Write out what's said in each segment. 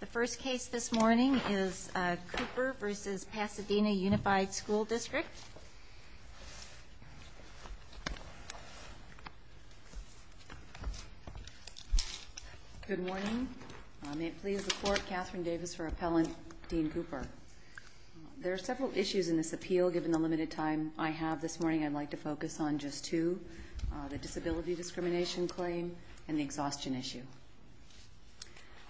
The first case this morning is Cooper v. Pasadena Unified School District. Good morning. May it please the Court, Catherine Davis for appellant, Dean Cooper. There are several issues in this appeal, given the limited time I have this morning. I'd like to focus on just two, the disability discrimination claim and the exhaustion issue.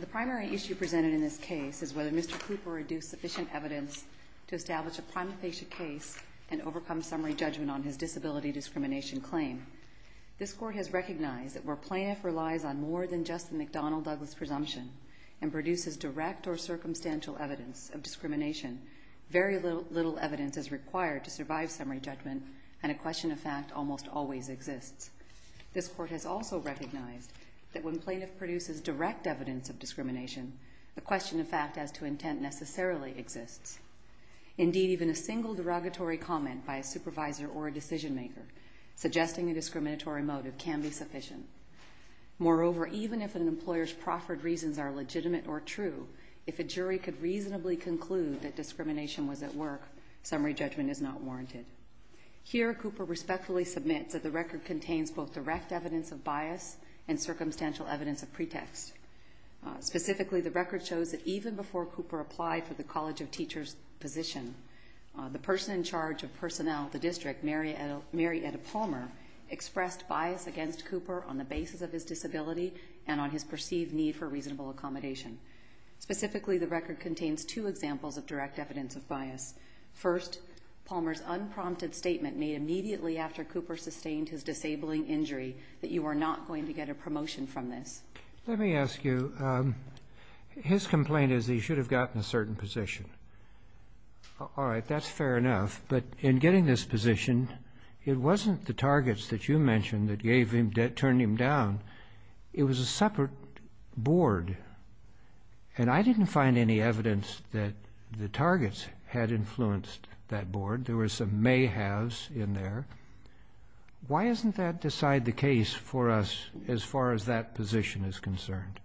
The primary issue presented in this case is whether Mr. Cooper reduced sufficient evidence to establish a prima facie case and overcome summary judgment on his disability discrimination claim. This Court has recognized that where plaintiff relies on more than just the McDonnell-Douglas presumption and produces direct or circumstantial evidence of discrimination, very little evidence is required to survive summary judgment and a question of fact almost always exists. This Court has also recognized that when plaintiff produces direct evidence of discrimination, the question of fact as to intent necessarily exists. Indeed, even a single derogatory comment by a supervisor or a decision maker suggesting a discriminatory motive can be sufficient. Moreover, even if an employer's proffered reasons are legitimate or true, if a jury could reasonably conclude that discrimination was at work, summary judgment is not warranted. Here, Cooper respectfully submits that the record contains both direct evidence of bias and circumstantial evidence of pretext. Specifically, the record shows that even before Cooper applied for the College of Teachers position, the person in charge of personnel at the district, Mary Edda Palmer, expressed bias against Cooper on the basis of his disability and on his perceived need for reasonable accommodation. Specifically, the record contains two examples of direct evidence of bias. First, Palmer's unprompted statement made immediately after Cooper sustained his disabling injury that you are not going to get a promotion from this. Let me ask you, his complaint is that he should have gotten a certain position. All right, that's fair enough, but in getting this position, it wasn't the targets that you mentioned that gave him, that turned him down. It was a separate board. And I didn't find any evidence that the targets had influenced that board. There were some may-haves in there. Why doesn't that decide the case for us as far as that position is concerned?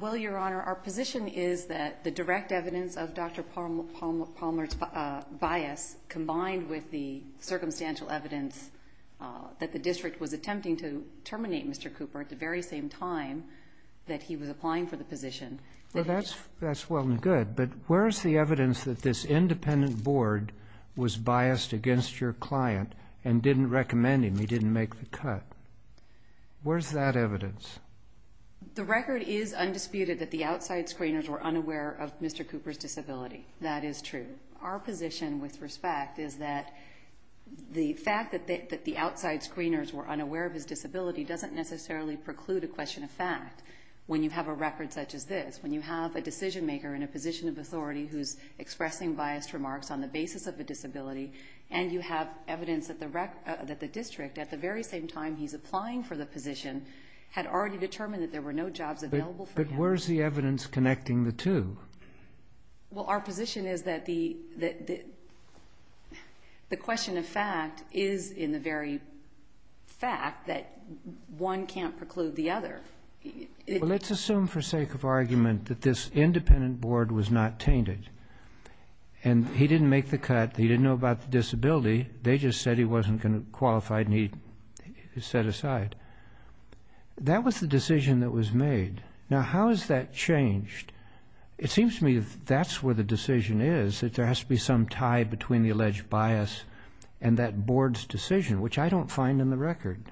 Well, Your Honor, our position is that the direct evidence of Dr. Palmer's bias combined with the circumstantial evidence that the district was attempting to terminate Mr. Cooper at the very same time that he was applying for the position. Well, that's well and good, but where's the evidence that this independent board was biased against your client and didn't recommend him, he didn't make the cut? Where's that evidence? The record is undisputed that the outside screeners were unaware of Mr. Cooper's disability. That is true. Our position, with respect, is that the fact that the outside screeners were unaware of his disability doesn't necessarily preclude a question of fact when you have a record such as this, when you have a decision-maker in a position of authority who's expressing biased remarks on the basis of a disability, and you have evidence that the district, at the very same time he's applying for the position, had already determined that there were no jobs available for him. But where's the evidence connecting the two? Well, our position is that the question of fact is in the very fact that one can't preclude the other. Well, let's assume for sake of argument that this independent board was not tainted and he didn't make the cut, he didn't know about the disability, they just said he wasn't qualified and he set aside. That was the decision that was made. Now, how has that changed? It seems to me that that's where the decision is, that there has to be some tie between the alleged bias and that board's decision, which I don't find in the record.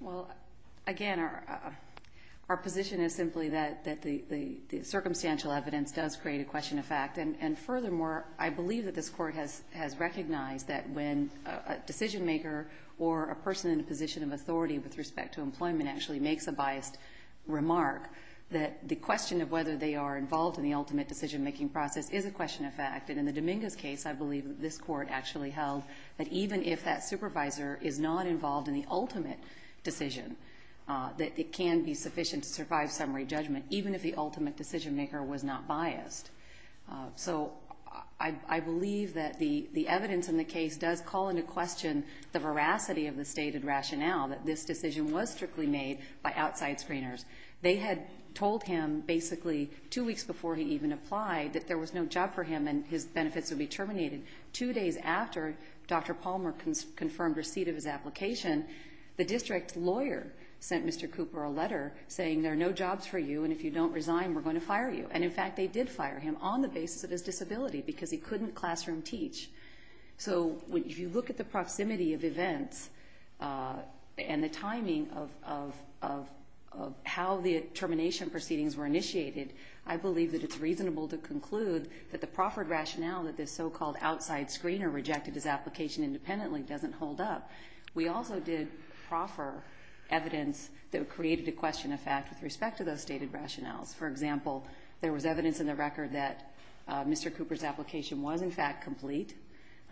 Well, again, our position is simply that the circumstantial evidence does create a question of fact. And furthermore, I believe that this Court has recognized that when a decision-maker or a person in a position of authority with respect to employment actually makes a biased remark, that the question of whether they are involved in the ultimate decision-making process is a question of fact. And in the Dominguez case, I believe that this Court actually held that even if that supervisor is not involved in the ultimate decision, that it can be sufficient to survive summary judgment, even if the ultimate decision-maker was not biased. So I believe that the evidence in the case does call into question the veracity of the stated rationale that this decision was strictly made by outside screeners. They had told him basically two weeks before he even applied that there was no job for him and his benefits would be terminated. Two days after Dr. Palmer confirmed receipt of his application, the district lawyer sent Mr. Cooper a letter saying there are no jobs for you, and if you don't resign, we're going to fire you. And in fact, they did fire him on the basis of his disability because he couldn't classroom teach. So if you look at the proximity of events and the timing of how the termination proceedings were initiated, I believe that it's reasonable to conclude that the proffered rationale that this so-called outside screener rejected his application independently doesn't hold up. We also did proffer evidence that created a question of fact with respect to those stated rationales. For example, there was evidence in the record that Mr. Cooper's application was in fact complete,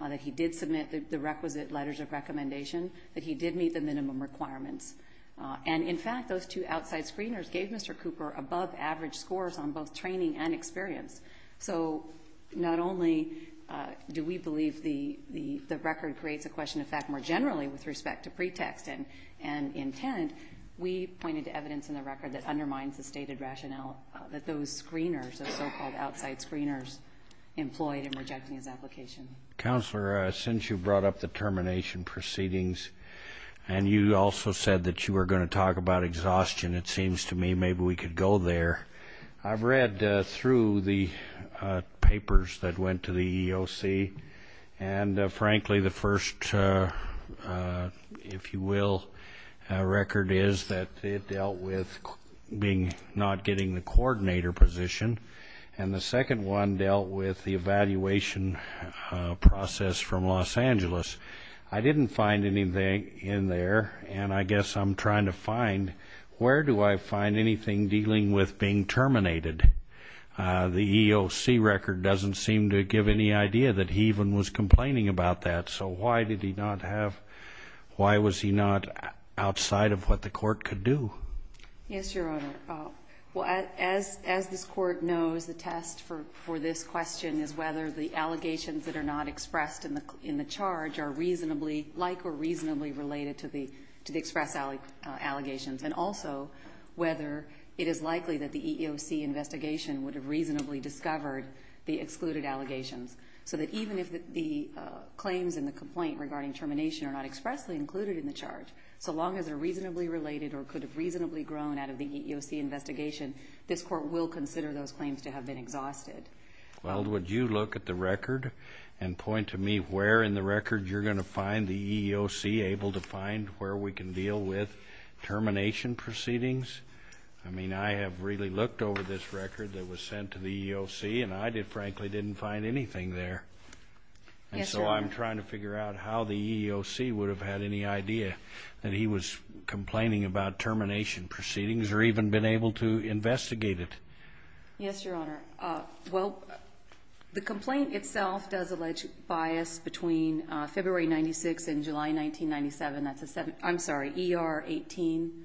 that he did submit the requisite letters of recommendation, that he did meet the minimum requirements. And in fact, those two outside screeners gave Mr. Cooper above average scores on both training and experience. So not only do we believe the record creates a question of fact more generally with respect to pretext and intent, we pointed to evidence in the record that undermines the stated rationale that those screeners, those so-called outside screeners, employed in rejecting his application. Counselor, since you brought up the termination proceedings, and you also said that you were going to talk about exhaustion, it seems to me maybe we could go there. I've read through the papers that went to the EEOC, and frankly the first, if you will, record is that it dealt with not getting the coordinator position, and the second one dealt with the evaluation process from Los Angeles. I didn't find anything in there, and I guess I'm trying to find, where do I find anything dealing with being terminated? The EEOC record doesn't seem to give any idea that he even was complaining about that, so why did he not have, why was he not outside of what the court could do? Yes, Your Honor. As this court knows, the test for this question is whether the allegations that are not expressed in the charge are like or reasonably related to the express allegations, and also whether it is likely that the EEOC investigation would have reasonably discovered the excluded allegations, so that even if the claims in the complaint regarding termination are not expressly included in the charge, so long as they're reasonably related or could have reasonably grown out of the EEOC investigation, this court will consider those claims to have been exhausted. Well, would you look at the record and point to me where in the record you're going to find the EEOC able to find where we can deal with termination proceedings? I mean, I have really looked over this record that was sent to the EEOC, and I frankly didn't find anything there. Yes, Your Honor. And so I'm trying to figure out how the EEOC would have had any idea that he was complaining about termination proceedings or even been able to investigate it. Yes, Your Honor. Well, the complaint itself does allege bias between February 1996 and July 1997. I'm sorry, ER 18,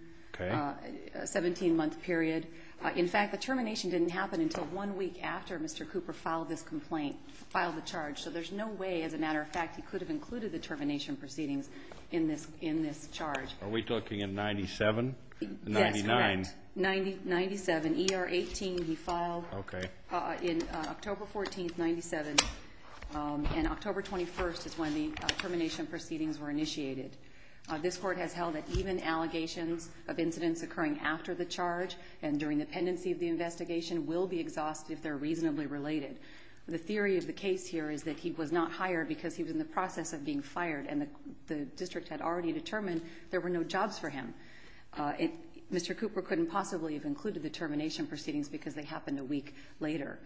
17-month period. In fact, the termination didn't happen until one week after Mr. Cooper filed this complaint, filed the charge. So there's no way, as a matter of fact, he could have included the termination proceedings in this charge. Are we talking in 97? Yes, correct. 97, ER 18, he filed in October 14, 1997. And October 21 is when the termination proceedings were initiated. This court has held that even allegations of incidents occurring after the charge and during the pendency of the investigation will be exhausted if they're reasonably related. The theory of the case here is that he was not hired because he was in the process of being fired, and the district had already determined there were no jobs for him. Mr. Cooper couldn't possibly have included the termination proceedings because they happened a week later.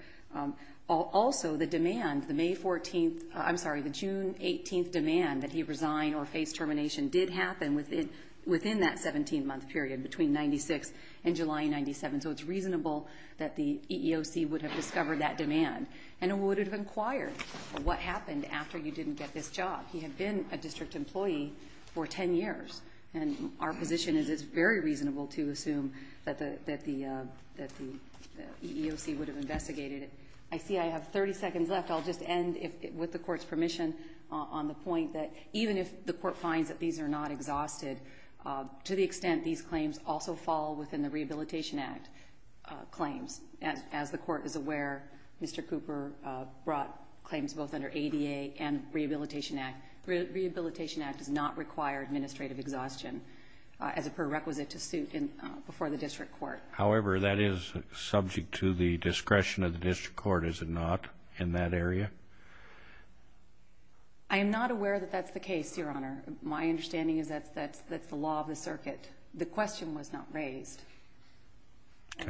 Also, the demand, the May 14th, I'm sorry, the June 18th demand that he resign or face termination did happen within that 17-month period between 96 and July 97, so it's reasonable that the EEOC would have discovered that demand and would have inquired what happened after you didn't get this job. He had been a district employee for 10 years, and our position is it's very reasonable to assume that the EEOC would have investigated it. I see I have 30 seconds left. I'll just end with the court's permission on the point that even if the court finds that these are not exhausted, to the extent these claims also fall within the Rehabilitation Act claims. As the court is aware, Mr. Cooper brought claims both under ADA and Rehabilitation Act. Rehabilitation Act does not require administrative exhaustion as a prerequisite to suit before the district court. However, that is subject to the discretion of the district court, is it not, in that area? I am not aware that that's the case, Your Honor. My understanding is that's the law of the circuit. The question was not raised.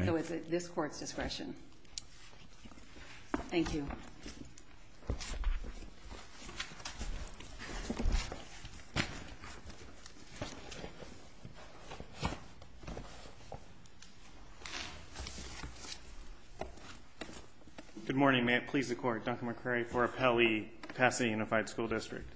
So it's at this court's discretion. Thank you. Good morning. May it please the Court. Duncan McCrary for Appellee, Pasadena Unified School District.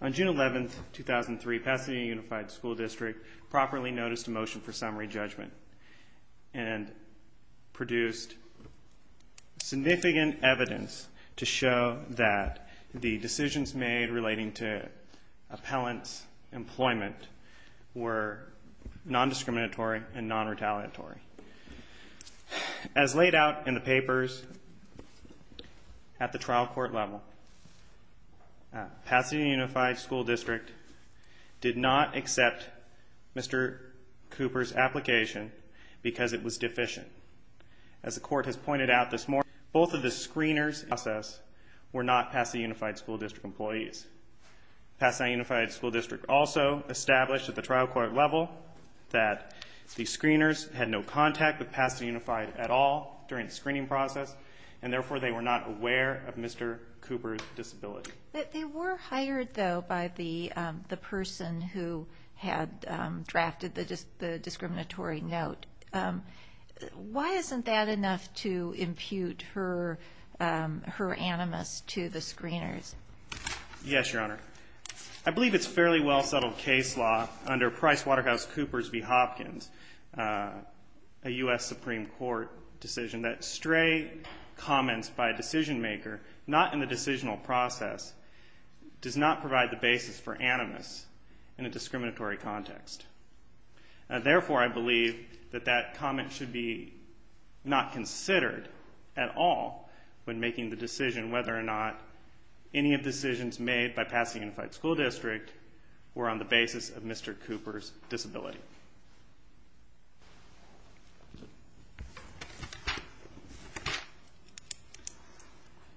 On June 11, 2003, Pasadena Unified School District properly noticed a motion for summary judgment and produced significant evidence to show that the decisions made relating to appellant's employment were non-discriminatory and non-retaliatory. As laid out in the papers at the trial court level, Pasadena Unified School District did not accept Mr. Cooper's application because it was deficient. As the court has pointed out this morning, both of the screeners in the process were not Pasadena Unified School District employees. Pasadena Unified School District also established at the trial court level that the screeners had no contact with Pasadena Unified at all during the screening process, and therefore they were not aware of Mr. Cooper's disability. They were hired, though, by the person who had drafted the discriminatory note. Why isn't that enough to impute her animus to the screeners? Yes, Your Honor. I believe it's fairly well-settled case law under Price-Waterhouse-Coopers v. Hopkins, a U.S. Supreme Court decision, that stray comments by a decision-maker not in the decisional process does not provide the basis for animus in a discriminatory context. Therefore, I believe that that comment should be not considered at all when making the decision whether or not any of the decisions made by Pasadena Unified School District were on the basis of Mr. Cooper's disability.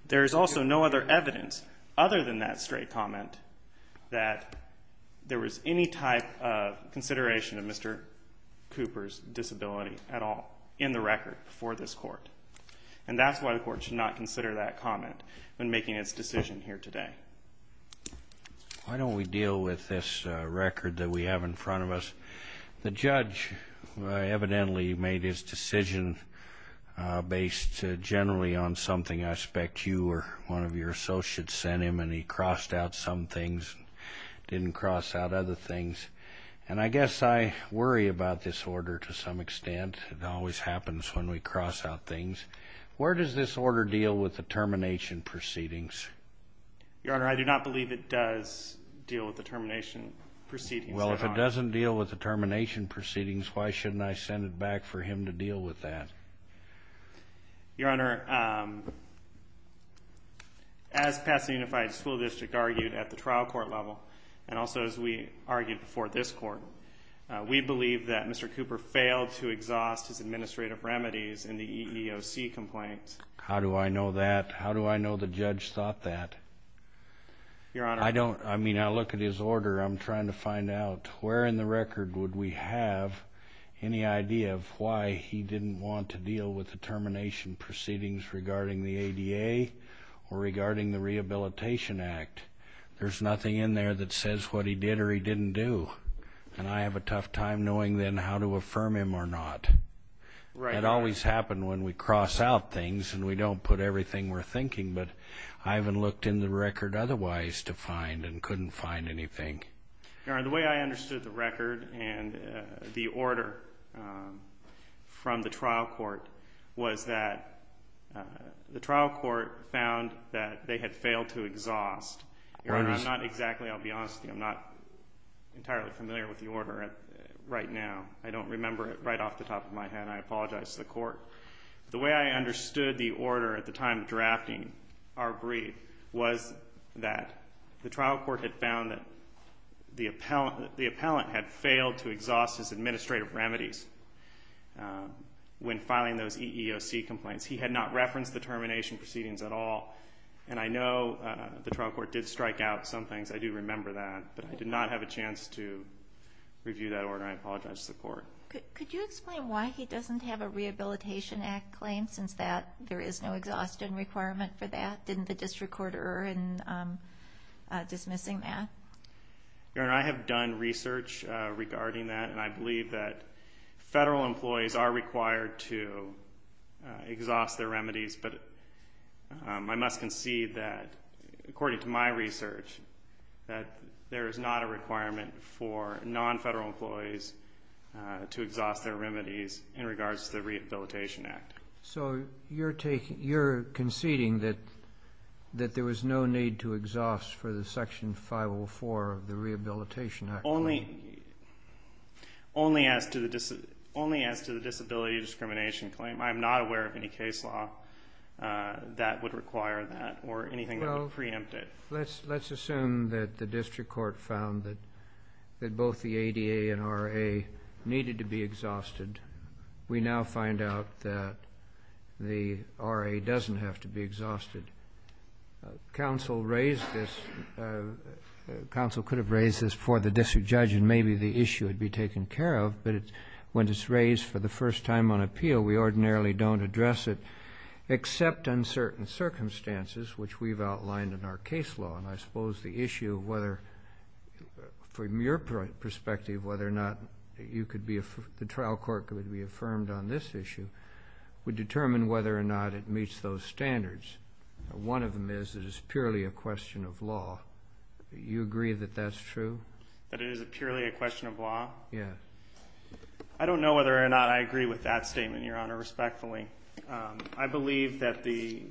There is also no other evidence other than that stray comment that there was any type of consideration of Mr. Cooper's disability at all in the record before this Court, and that's why the Court should not consider that comment when making its decision here today. Why don't we deal with this record that we have in front of us? The judge evidently made his decision based generally on something I suspect you or one of your associates sent him, and he crossed out some things and didn't cross out other things. And I guess I worry about this order to some extent. It always happens when we cross out things. Where does this order deal with the termination proceedings? Your Honor, I do not believe it does deal with the termination proceedings. Well, if it doesn't deal with the termination proceedings, why shouldn't I send it back for him to deal with that? Your Honor, as Pasadena Unified School District argued at the trial court level and also as we argued before this Court, we believe that Mr. Cooper failed to exhaust his administrative remedies in the EEOC complaint. How do I know that? How do I know the judge thought that? Your Honor, I don't. I mean, I look at his order. I'm trying to find out where in the record would we have any idea of why he didn't want to deal with the termination proceedings regarding the ADA or regarding the Rehabilitation Act. There's nothing in there that says what he did or he didn't do, and I have a tough time knowing then how to affirm him or not. It always happens when we cross out things and we don't put everything we're thinking, but I haven't looked in the record otherwise to find and couldn't find anything. Your Honor, the way I understood the record and the order from the trial court was that the trial court found that they had failed to exhaust. Your Honor, I'm not exactly, I'll be honest with you, I'm not entirely familiar with the order right now. I don't remember it right off the top of my head. I apologize to the court. The way I understood the order at the time of drafting our brief was that the trial court had found that the appellant had failed to exhaust his administrative remedies when filing those EEOC complaints. He had not referenced the termination proceedings at all, and I know the trial court did strike out some things. I do remember that, but I did not have a chance to review that order. I apologize to the court. Could you explain why he doesn't have a Rehabilitation Act claim since there is no exhaustion requirement for that? Didn't the district court err in dismissing that? Your Honor, I have done research regarding that, and I believe that federal employees are required to exhaust their remedies, but I must concede that, according to my research, that there is not a requirement for non-federal employees to exhaust their remedies in regards to the Rehabilitation Act. So you're conceding that there was no need to exhaust for the Section 504 of the Rehabilitation Act? Your Honor, only as to the disability discrimination claim. I am not aware of any case law that would require that or anything that would preempt it. Well, let's assume that the district court found that both the ADA and RA needed to be exhausted. We now find out that the RA doesn't have to be exhausted. Counsel could have raised this before the district judge, and maybe the issue would be taken care of, but when it's raised for the first time on appeal, we ordinarily don't address it except uncertain circumstances, which we've outlined in our case law. And I suppose the issue of whether, from your perspective, whether or not the trial court could be affirmed on this issue would determine whether or not it meets those standards. One of them is it is purely a question of law. Do you agree that that's true? That it is purely a question of law? Yes. I don't know whether or not I agree with that statement, Your Honor, respectfully. I believe that the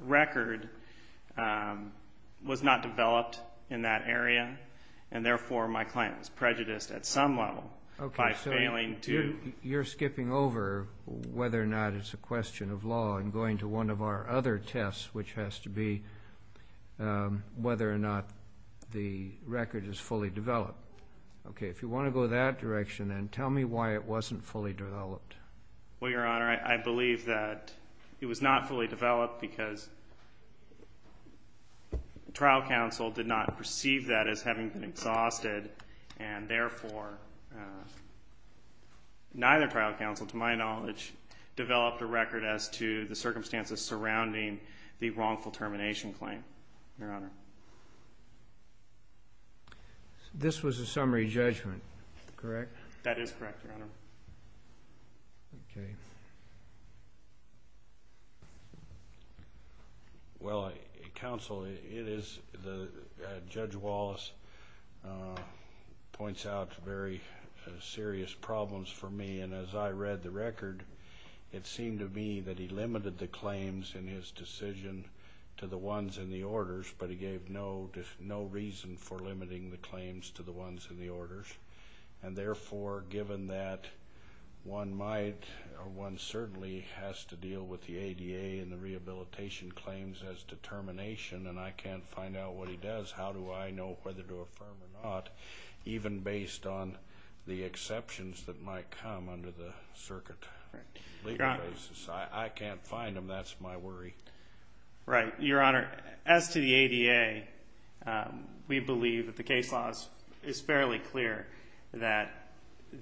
record was not developed in that area, and therefore my claim is prejudiced at some level by failing to. You're skipping over whether or not it's a question of law and going to one of our other tests, which has to be whether or not the record is fully developed. Okay. If you want to go that direction, then tell me why it wasn't fully developed. Well, Your Honor, I believe that it was not fully developed because trial counsel did not perceive that as having been exhausted, and therefore neither trial counsel, to my knowledge, developed a record as to the circumstances surrounding the wrongful termination claim. Your Honor. This was a summary judgment, correct? That is correct, Your Honor. Okay. Well, counsel, Judge Wallace points out very serious problems for me, and as I read the record, it seemed to me that he limited the claims in his decision to the ones in the orders, but he gave no reason for limiting the claims to the ones in the orders, and therefore, given that one might or one certainly has to deal with the ADA and the rehabilitation claims as determination, and I can't find out what he does, how do I know whether to affirm or not, even based on the exceptions that might come under the circuit legal basis? I can't find them. That's my worry. Right. Your Honor, as to the ADA, we believe that the case law is fairly clear that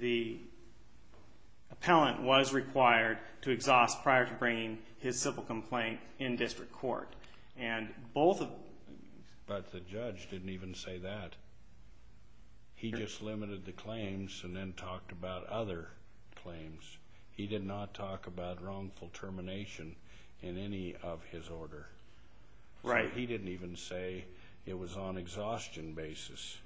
the appellant was required to exhaust prior to bringing his civil complaint in district court, and both of them. But the judge didn't even say that. He just limited the claims and then talked about other claims. He did not talk about wrongful termination in any of his order. Right. He didn't even say it was on exhaustion basis.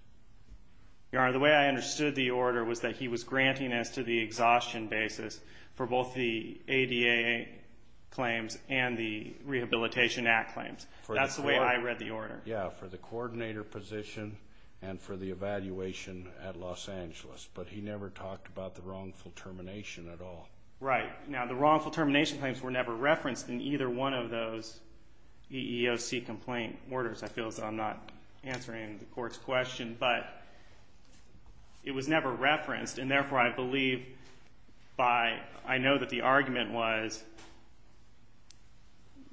Your Honor, the way I understood the order was that he was granting us to the exhaustion basis for both the ADA claims and the Rehabilitation Act claims. That's the way I read the order. Yeah, for the coordinator position and for the evaluation at Los Angeles, but he never talked about the wrongful termination at all. Right. Now, the wrongful termination claims were never referenced in either one of those EEOC complaint orders. I feel as though I'm not answering the Court's question, but it was never referenced, and therefore I believe by I know that the argument was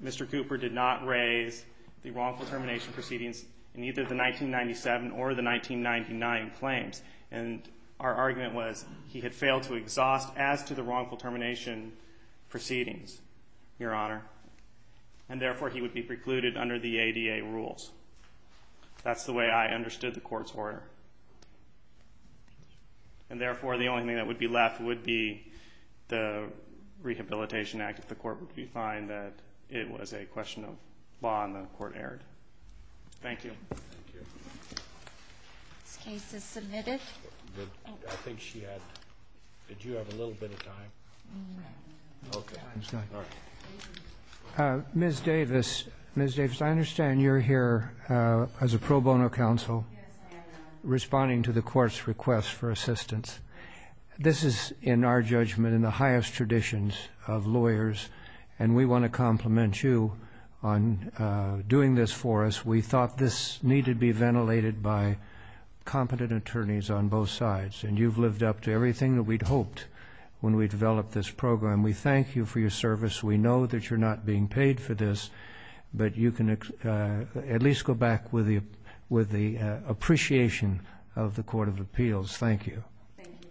Mr. Cooper did not raise the wrongful termination proceedings in either the 1997 or the 1999 claims. And our argument was he had failed to exhaust as to the wrongful termination proceedings, Your Honor, and therefore he would be precluded under the ADA rules. That's the way I understood the Court's order. And therefore the only thing that would be left would be the Rehabilitation Act, if the Court would find that it was a question of law and the Court erred. Thank you. Thank you. This case is submitted. I think she has. Did you have a little bit of time? Okay. Ms. Davis, Ms. Davis, I understand you're here as a pro bono counsel responding to the Court's request for assistance. This is, in our judgment, in the highest traditions of lawyers, and we want to compliment you on doing this for us. We thought this needed to be ventilated by competent attorneys on both sides, and you've lived up to everything that we'd hoped when we developed this program. We thank you for your service. We know that you're not being paid for this, but you can at least go back with the appreciation of the Court of Appeals. Thank you very much, Your Honor.